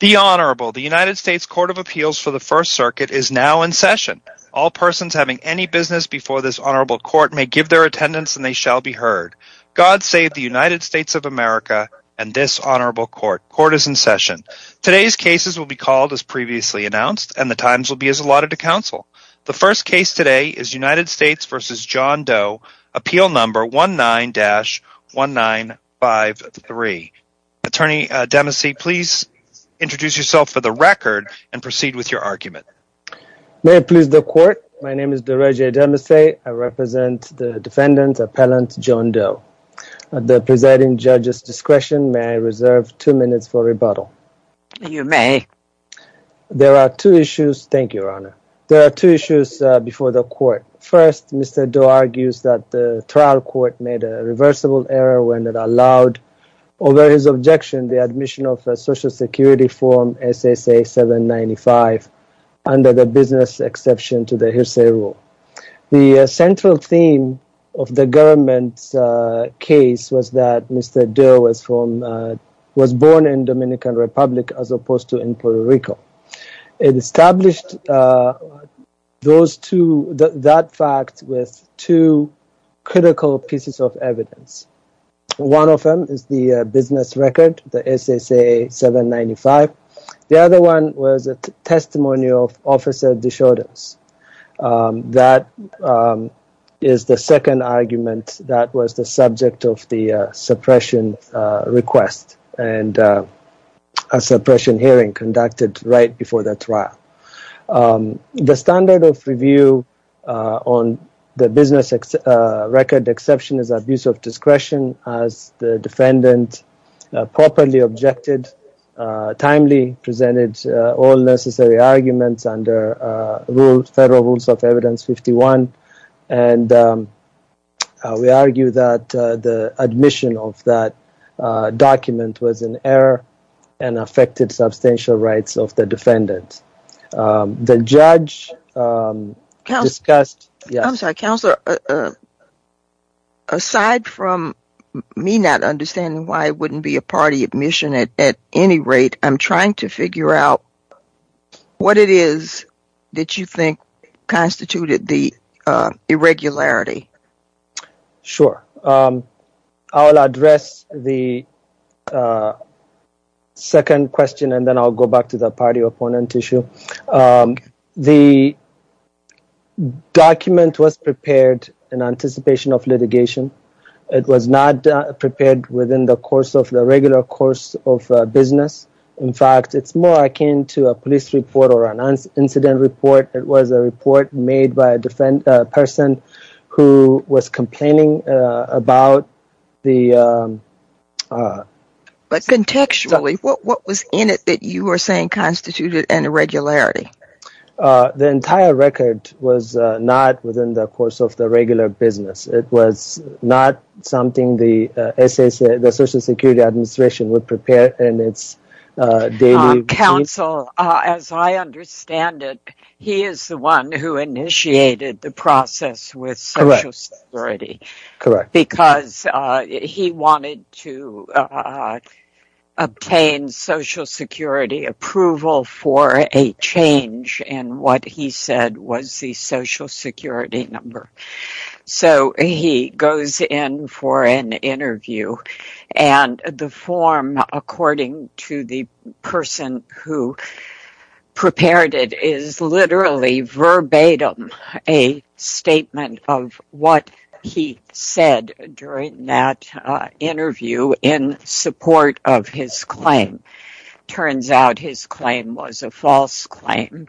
The Honorable, the United States Court of Appeals for the First Circuit is now in session. All persons having any business before this Honorable Court may give their attendance and they shall be heard. God save the United States of America and this Honorable Court. Court is in session. Today's cases will be called as previously announced and the times will be as allotted to counsel. The first case today is United States v. John Doe, Appeal Number 19-1953. Attorney Demisey, please introduce yourself for the record and proceed with your argument. May it please the Court, my name is Dereje Demisey. I represent the defendant, appellant John Doe. At the presiding judge's discretion, may I reserve two minutes for rebuttal? You may. There are two issues, thank you, Your Honor. There are two issues before the Court. First, Mr. Doe argues that the trial court made a reversible error when it allowed over his objection the admission of a social security form, SSA-795, under the business exception to the hearsay rule. The central theme of the government's case was that Mr. Doe was born in Dominican Republic as opposed to in Puerto Rico. It established that fact with two business records, the SSA-795. The other one was a testimony of officer Desjardins. That is the second argument that was the subject of the suppression request and a suppression hearing conducted right before the trial. The standard of review on the business record exception is abuse of discretion. As the defendant properly objected, timely presented all necessary arguments under Federal Rules of Evidence 51, and we argue that the admission of that document was an error and affected substantial rights of the defendant. The judge discussed... Aside from me not understanding why it wouldn't be a party admission at any rate, I'm trying to figure out what it is that you think constituted the irregularity. Sure, I'll address the second question and then I'll go back to the party opponent issue. The document was prepared in anticipation of litigation. It was not prepared within the course of the regular course of business. In fact, it's more akin to a police report or an incident report. It was a report made by a person who was complaining about the... Contextually, what was in it that you were saying it was not something the Social Security Administration would prepare in its daily routine? Counsel, as I understand it, he is the one who initiated the process with Social Security, because he wanted to obtain Social Security approval for a change in what he said was the Social Security number. So, he goes in for an interview and the form, according to the person who prepared it, is literally verbatim a statement of what he said during that interview in support of his claim. Turns out his claim was a false claim,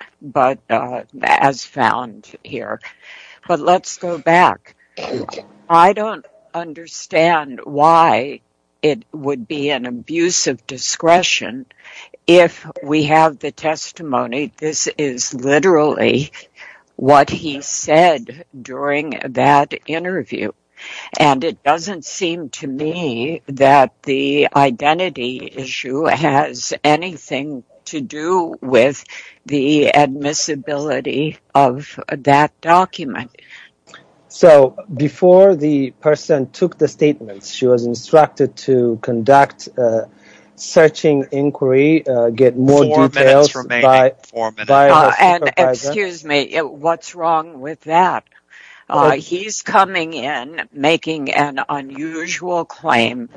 as found here. But let's go back. I don't understand why it would be an abuse of discretion if we have the testimony this is issue has anything to do with the admissibility of that document. So, before the person took the statement, she was instructed to conduct a searching inquiry, get more details... Four minutes remaining. And excuse me, what's wrong with that? He's coming in making an unusual claim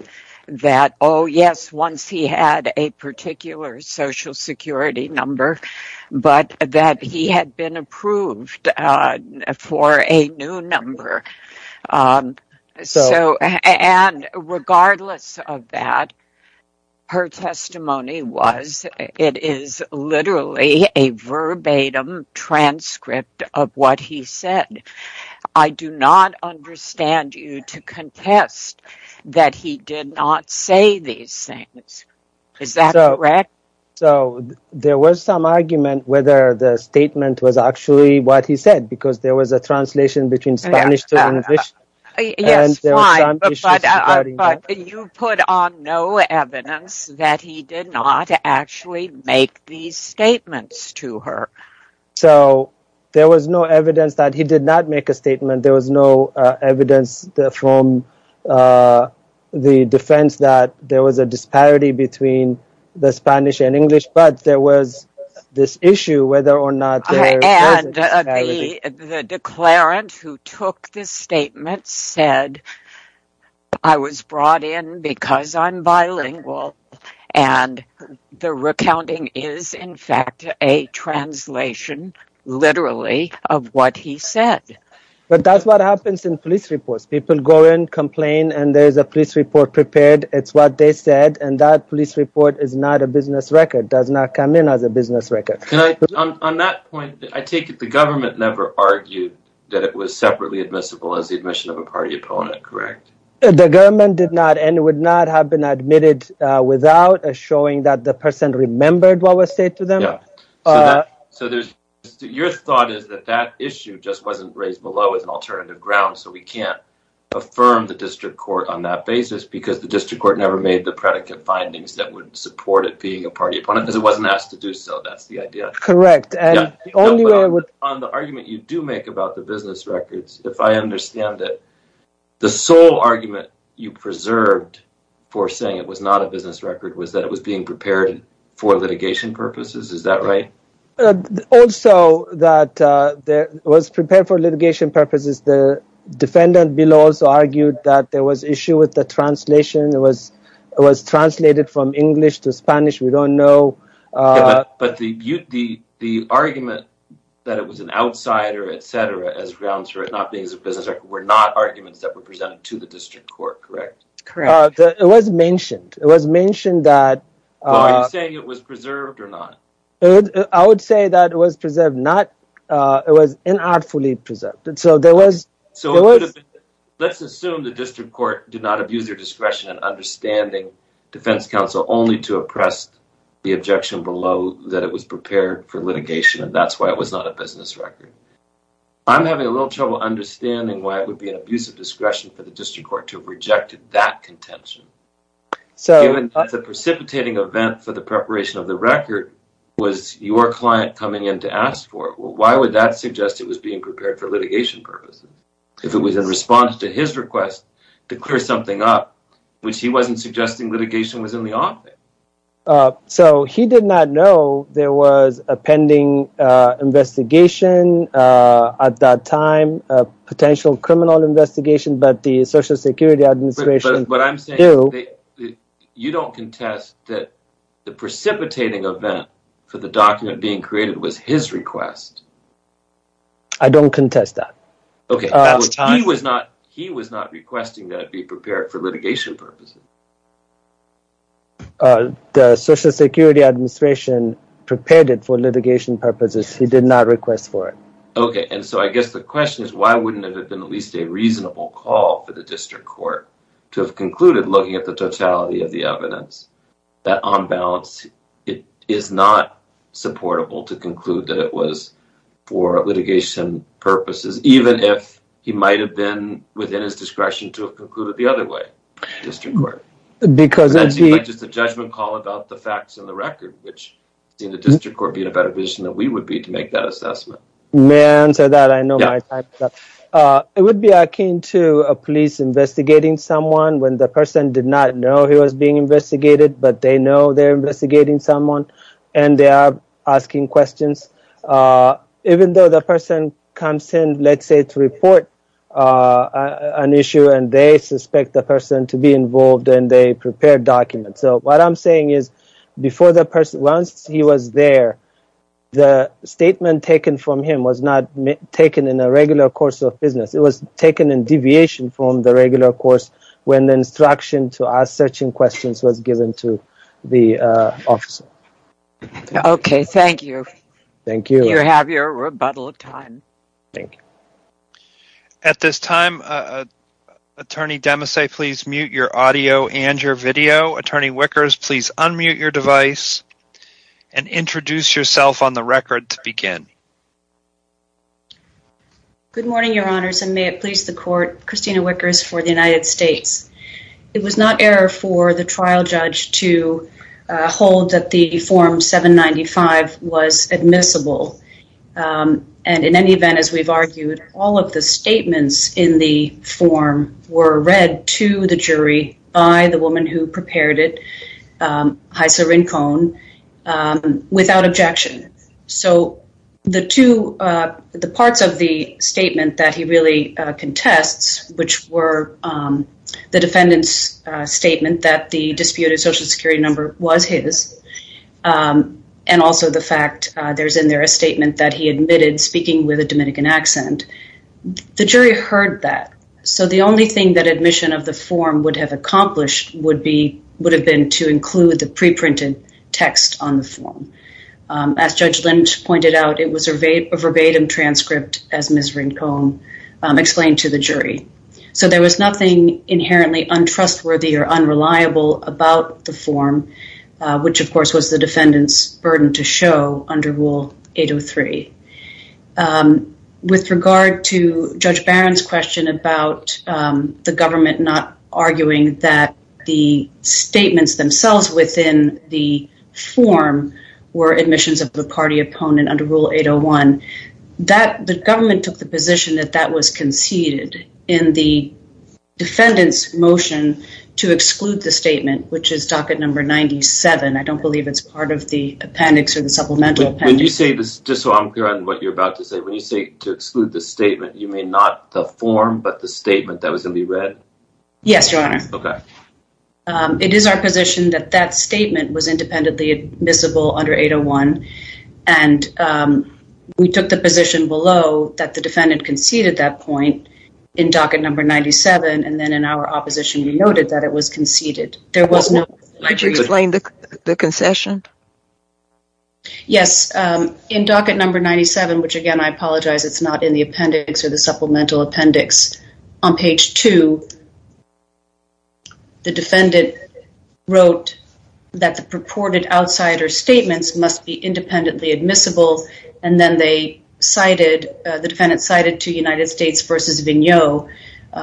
that, oh yes, once he had a particular Social Security number, but that he had been approved for a new number. So, and regardless of that, her testimony was, it is literally a verbatim transcript of what he said. I do not understand you to contest that he did not say these things. Is that correct? So, there was some argument whether the statement was actually what he said, because there was a translation between Spanish to English. Yes, fine, but you put on no evidence that he did not actually make these statements to her. So, there was no evidence that he did not make a statement. There was no evidence from the defense that there was a disparity between the Spanish and English, but there was this issue whether or not... And the declarant who took this statement said, I was brought in because I'm bilingual, and the recounting is, in fact, a translation, literally, of what he said. But that's what happens in police reports. People go in, complain, and there's a police report prepared. It's what they said, and that police report is not a business record, does not come in as a business record. On that point, I take it the government never argued that it was separately admissible as admission of a party opponent, correct? The government did not, and it would not have been admitted without showing that the person remembered what was said to them. So, your thought is that that issue just wasn't raised below as an alternative ground, so we can't affirm the district court on that basis, because the district court never made the predicate findings that would support it being a party opponent, because it wasn't asked to do so. That's the idea. Correct. The only way I would... On the argument you do make about the business records, if I understand it, the sole argument you preserved for saying it was not a business record was that it was being prepared for litigation purposes. Is that right? Also, that it was prepared for litigation purposes. The defendant, Bill, also argued that there was an issue with the translation. It was translated from English to Spanish. We don't know... But the argument that it was an outsider, etc., as grounds for it not being a business record, were not arguments that were presented to the district court, correct? Correct. It was mentioned. It was mentioned that... Are you saying it was preserved or not? I would say that it was preserved. It was inartfully preserved. So, let's assume the district court did not abuse their discretion in understanding defense counsel only to oppress the objection below that it was prepared for litigation and that's why it was not a business record. I'm having a little trouble understanding why it would be an abusive discretion for the district court to have rejected that contention. Given that it's a precipitating event for the preparation of the record, was your client coming in to ask for it? Well, why would that suggest it was being prepared for litigation purposes? If it was in response to his request to clear something up, which he wasn't suggesting litigation was in the office. So, he did not know there was a pending investigation at that time, a potential criminal investigation, but the Social Security Administration... But I'm saying you don't contest that the precipitating event for the document being created was his request. I don't contest that. He was not requesting that it be prepared for litigation purposes. The Social Security Administration prepared it for litigation purposes. He did not request for it. Okay, and so I guess the question is why wouldn't it have been at least a reasonable call for the district court to have concluded, looking at the totality of the evidence, that on balance it is not supportable to conclude that it was for litigation purposes, even if he might have been within his discretion to have concluded the other way, the district court? Because it's just a judgment call about the facts and the record, which the district court being a better position that we would be to make that assessment. May I answer that? I know it would be akin to a police investigating someone when the person did not know he was being investigated, but they know they're investigating someone and they are asking questions, even though the person comes in, let's say, to report an issue and they suspect the person to be involved and they prepare documents. So what I'm saying is before the person, once he was there, the statement taken from him was not taken in a regular course of business. It was taken in deviation from the regular course when the instruction to ask such questions was given to the officer. Okay, thank you. Thank you. You have your rebuttal time. Thank you. At this time, attorney Demasay, please mute your audio and your video. Attorney Wickers, please unmute your device and introduce yourself on the record to begin. Good morning, your honors, and may it please the court, Christina Wickers for the United States. It was not error for the trial judge to hold that the form 795 was admissible. And in any event, as we've argued, all of the statements in the form were read to the jury by the woman who prepared it, Haisa Rincon, without objection. So the two, the parts of the statement that he really contests, which were the defendant's statement that the disputed social security number was his, and also the fact there's in there a statement that he admitted speaking with a Dominican accent, the jury heard that. So the only thing that admission of the form would have accomplished would be, would have been to include the preprinted text on the form. As Judge Lynch pointed out, it was a verbatim transcript as Ms. Rincon explained to the jury. So there was nothing inherently untrustworthy or unreliable about the form, which of course was the defendant's burden to show under Rule 803. With regard to Judge Barron's question about the government not arguing that the statements themselves within the form were admissions of the party opponent under Rule 801, the government took the position that that was conceded in the defendant's motion to exclude the statement, which is docket number 97. I don't believe it's part of the appendix or the supplemental appendix. When you say this, just so I'm clear on what you're about to say, when you say to exclude the statement, you mean not the form, but the statement that was going to be read? Yes, Your Honor. Okay. It is our position that that statement was independently admissible under 801. And we took the position below that the defendant conceded that point in docket number 97. And then in our opposition, we noted that it was conceded. There was no... Could you explain the concession? Yes. In docket number 97, which again, I apologize, it's not in the appendix or supplemental appendix. On page two, the defendant wrote that the purported outsider statements must be independently admissible. And then the defendant cited to United States versus Vigneault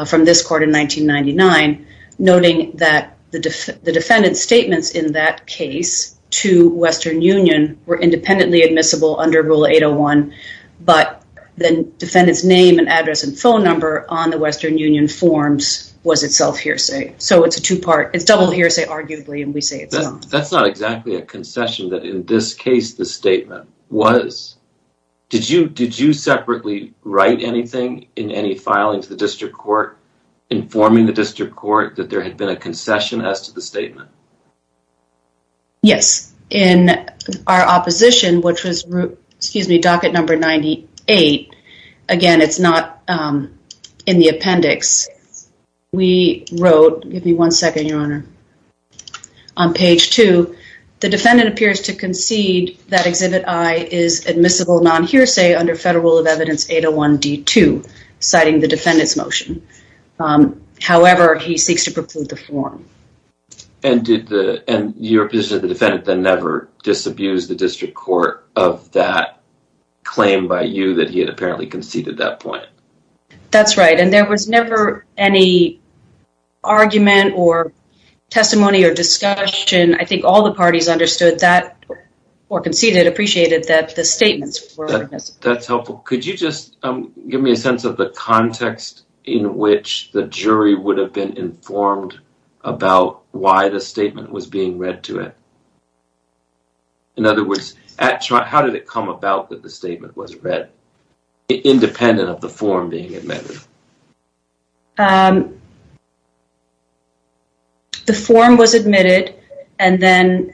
from this court in 1999, noting that the defendant's statements in that case to Western Union were independently admissible under rule 801, but the defendant's name and address and phone number on the Western Union forms was itself hearsay. So it's a two-part... It's double hearsay arguably, and we say it's not. That's not exactly a concession that in this case, the statement was. Did you separately write anything in any filing to the district court, informing the district court that there had been a concession as to the statement? Yes. In our opposition, which was docket number 98, again, it's not in the appendix. We wrote... Give me one second, Your Honor. On page two, the defendant appears to concede that Exhibit I is admissible non-hearsay under federal rule of evidence 801D2, citing the defendant's motion. However, he seeks to preclude the form. And your position is the defendant then never disabused the district court of that claim by you that he had apparently conceded that point? That's right, and there was never any argument or testimony or discussion. I think all the parties understood that or conceded, appreciated that the statements were admissible. That's helpful. Could you just give me a sense of the context in which the jury would have been informed about why the statement was being read to it? In other words, how did it come about that the statement was read, independent of the form being amended? The form was admitted, and then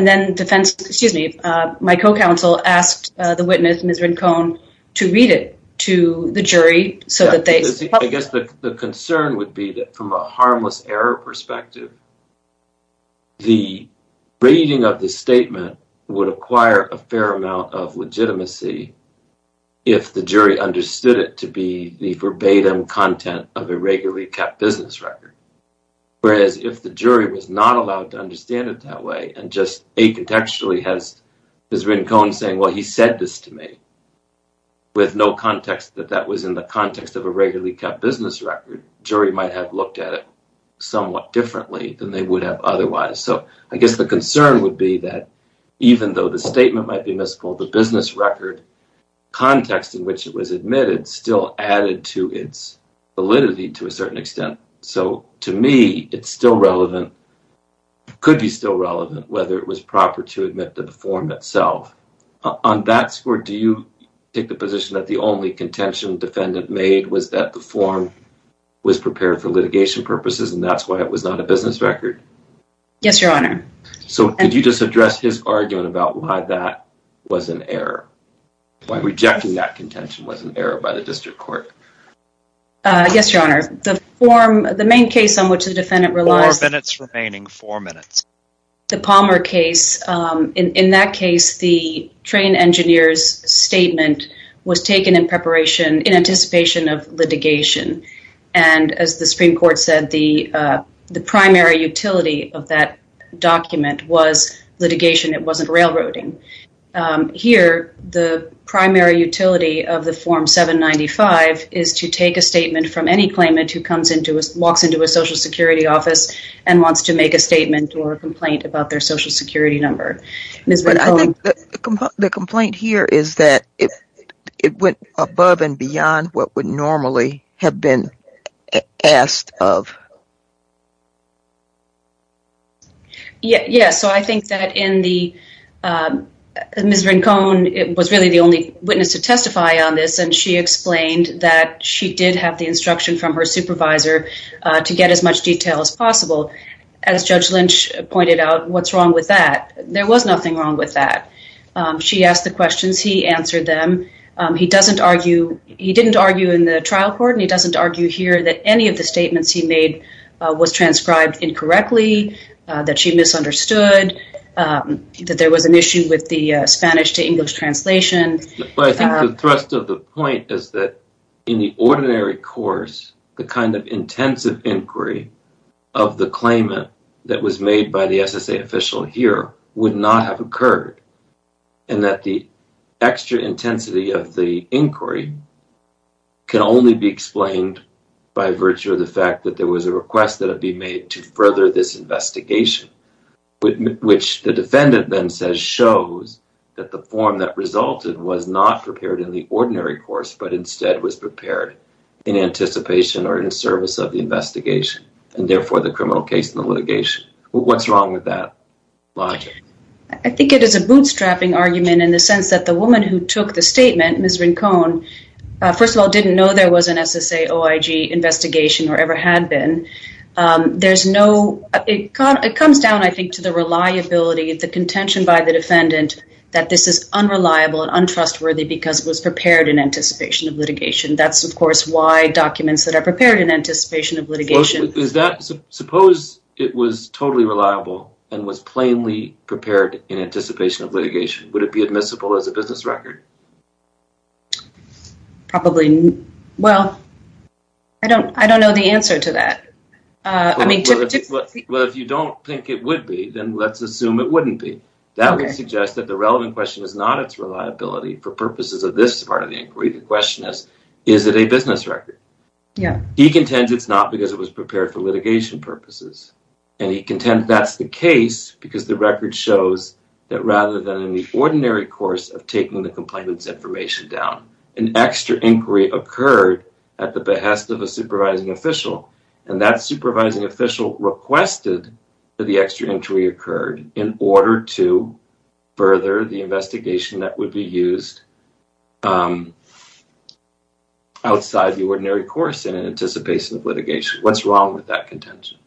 defense... Excuse me. My co-counsel asked the witness, to read it to the jury so that they... I guess the concern would be that from a harmless error perspective, the reading of the statement would acquire a fair amount of legitimacy if the jury understood it to be the verbatim content of a regularly kept business record. Whereas if the jury was not allowed to understand it that way and just contextually has his written cone saying, well, he said this to me, with no context that that was in the context of a regularly kept business record, jury might have looked at it somewhat differently than they would have otherwise. So I guess the concern would be that even though the statement might be missed, the business record context in which it was admitted still added to its validity to a certain form itself. On that score, do you take the position that the only contention defendant made was that the form was prepared for litigation purposes, and that's why it was not a business record? Yes, your honor. So could you just address his argument about why that was an error? Why rejecting that contention was an error by the district court? Yes, your honor. The form, the main case on which the defendant relies... Four minutes remaining, four minutes. The Palmer case, in that case, the train engineer's statement was taken in anticipation of litigation. And as the Supreme Court said, the primary utility of that document was litigation. It wasn't railroading. Here, the primary utility of the form 795 is to take a statement from any complaint about their social security number. But I think the complaint here is that it went above and beyond what would normally have been asked of. Yes. So I think that in the... Ms. Rincon was really the only witness to testify on this, and she explained that she did have the instruction from her supervisor to get as much detail as possible. As Judge Lynch pointed out, what's wrong with that? There was nothing wrong with that. She asked the questions, he answered them. He didn't argue in the trial court, and he doesn't argue here that any of the statements he made was transcribed incorrectly, that she misunderstood, that there was an issue with the Spanish to English translation. But I think the thrust of the point is that in the ordinary course, the kind of intensive inquiry of the claimant that was made by the SSA official here would not have occurred, and that the extra intensity of the inquiry can only be explained by virtue of the fact that there was a request that had been made to further this investigation, which the defendant then says shows that the form that resulted was not prepared in the ordinary course, but instead was prepared in anticipation or in service of the investigation, and therefore the criminal case in the litigation. What's wrong with that logic? I think it is a bootstrapping argument in the sense that the woman who took the statement, Ms. Rincon, first of all didn't know there was an SSA-OIG investigation or ever had been. There's no... It comes down, I think, to the reliability, the contention by the defendant that this is unreliable and untrustworthy because it was prepared in anticipation of litigation. That's, of course, why documents that are prepared in anticipation of litigation... Suppose it was totally reliable and was plainly prepared in anticipation of litigation. Would it be admissible as a business record? Probably. Well, I don't know the answer to that. I mean, typically... Well, if you don't think it would be, then let's assume it wouldn't be. That would suggest that the relevant question is not its reliability for purposes of this part of the inquiry. The question is, is it a business record? Yeah. He contends it's not because it was prepared for litigation purposes, and he contends that's the case because the record shows that rather than in the ordinary course of taking the complainant's information down, an extra inquiry occurred at the behest of a supervising official, and that supervising official requested that the extra inquiry occurred in order to further the investigation that would be used outside the ordinary course in anticipation of litigation. What's wrong with that contention?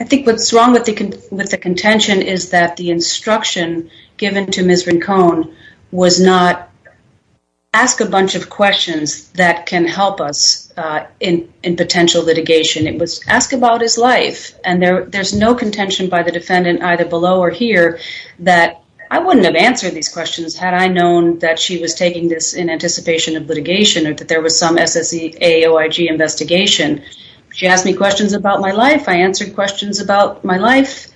I think what's wrong with the contention is that the instruction given to Ms. Rincon was not ask a bunch of questions that can help us in potential litigation. It was ask about his life, and there's no contention by the defendant either below or here that I wouldn't have answered these questions had I known that she was taking this in anticipation of litigation or that there was some SSAOIG investigation. She asked me questions about my life. I answered questions about my life.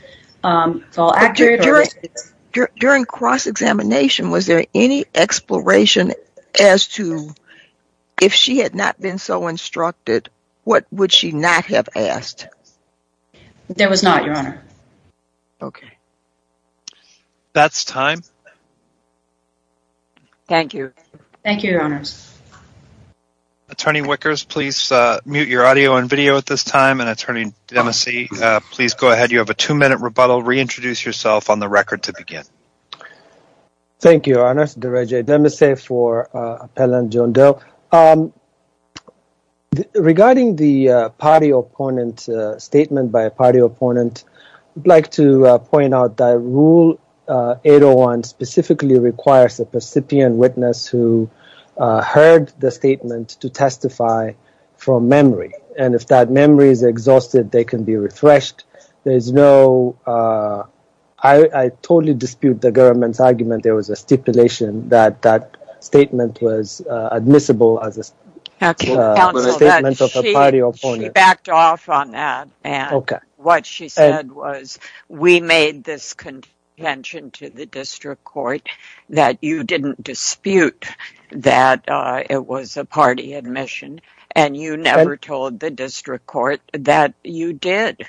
During cross-examination, was there any exploration as to if she had not been so instructed, what would she not have asked? There was not, Your Honor. Okay. That's time. Thank you. Thank you, Your Honors. Attorney Wickers, please mute your audio and video at this time, and Attorney Demese, please go ahead. You have a two-minute rebuttal. Reintroduce yourself on the record to begin. Thank you, Your Honors. Dereje Demese for Appellant John Doe. Regarding the party opponent statement by a party opponent, I'd like to point out that Rule 801 specifically requires the recipient witness who heard the statement to testify from memory, and if that memory is exhausted, they can be refreshed. I totally dispute the government's argument there was a stipulation that that statement was admissible as a statement of a district court that you didn't dispute that it was a party admission, and you never told the district court that you did.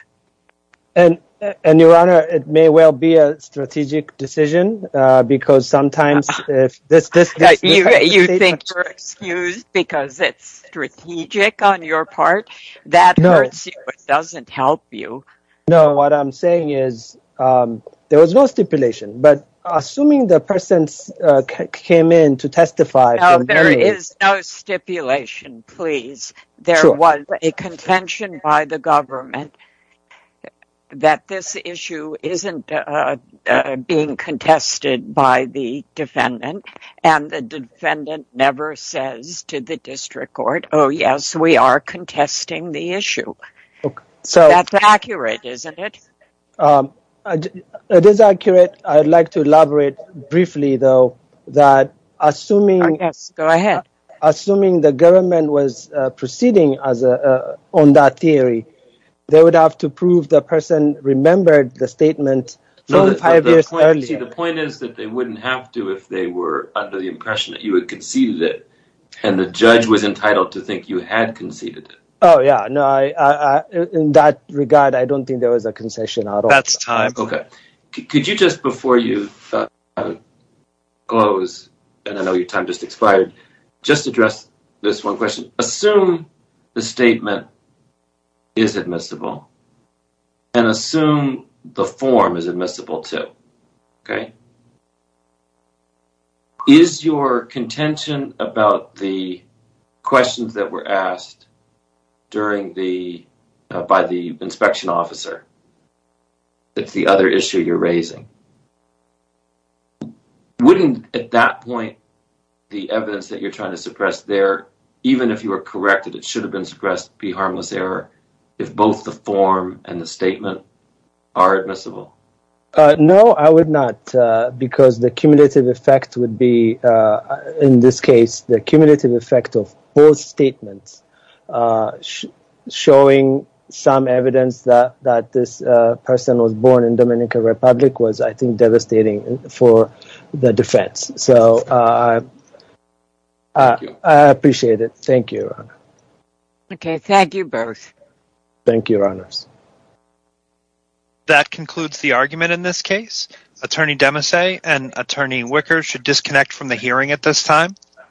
And, Your Honor, it may well be a strategic decision, because sometimes if this... You think you're excused because it's strategic on your part? That hurts you, it doesn't help you. No, what I'm saying is there was no stipulation, but assuming the person came in to testify... No, there is no stipulation, please. There was a contention by the government that this issue isn't being contested by the defendant, and the defendant never says to the public. That's accurate, isn't it? It is accurate. I'd like to elaborate briefly, though, that assuming... Yes, go ahead. Assuming the government was proceeding on that theory, they would have to prove the person remembered the statement five years earlier. The point is that they wouldn't have to if they were under the impression that you had conceded it, and the judge was entitled to think you had conceded it. Oh, yeah. No, in that regard, I don't think there was a concession at all. That's time. Okay. Could you just, before you close, and I know your time just expired, just address this one question. Assume the statement is admissible, and assume the form is admissible, too, okay? Okay. Is your contention about the questions that were asked by the inspection officer that's the other issue you're raising, wouldn't, at that point, the evidence that you're trying to suppress there, even if you were corrected it should have been suppressed, be harmless error if both the form and the statement are admissible? No, I would not because the cumulative effect would be, in this case, the cumulative effect of both statements showing some evidence that this person was born in the Dominican Republic was, I think, devastating for the defense. So, I appreciate it. Thank you, Your Honor. Okay. Thank you, both. Thank you, Your Honors. That concludes the argument in this case. Attorney Demesse and Attorney Wicker should disconnect from the hearing at this time.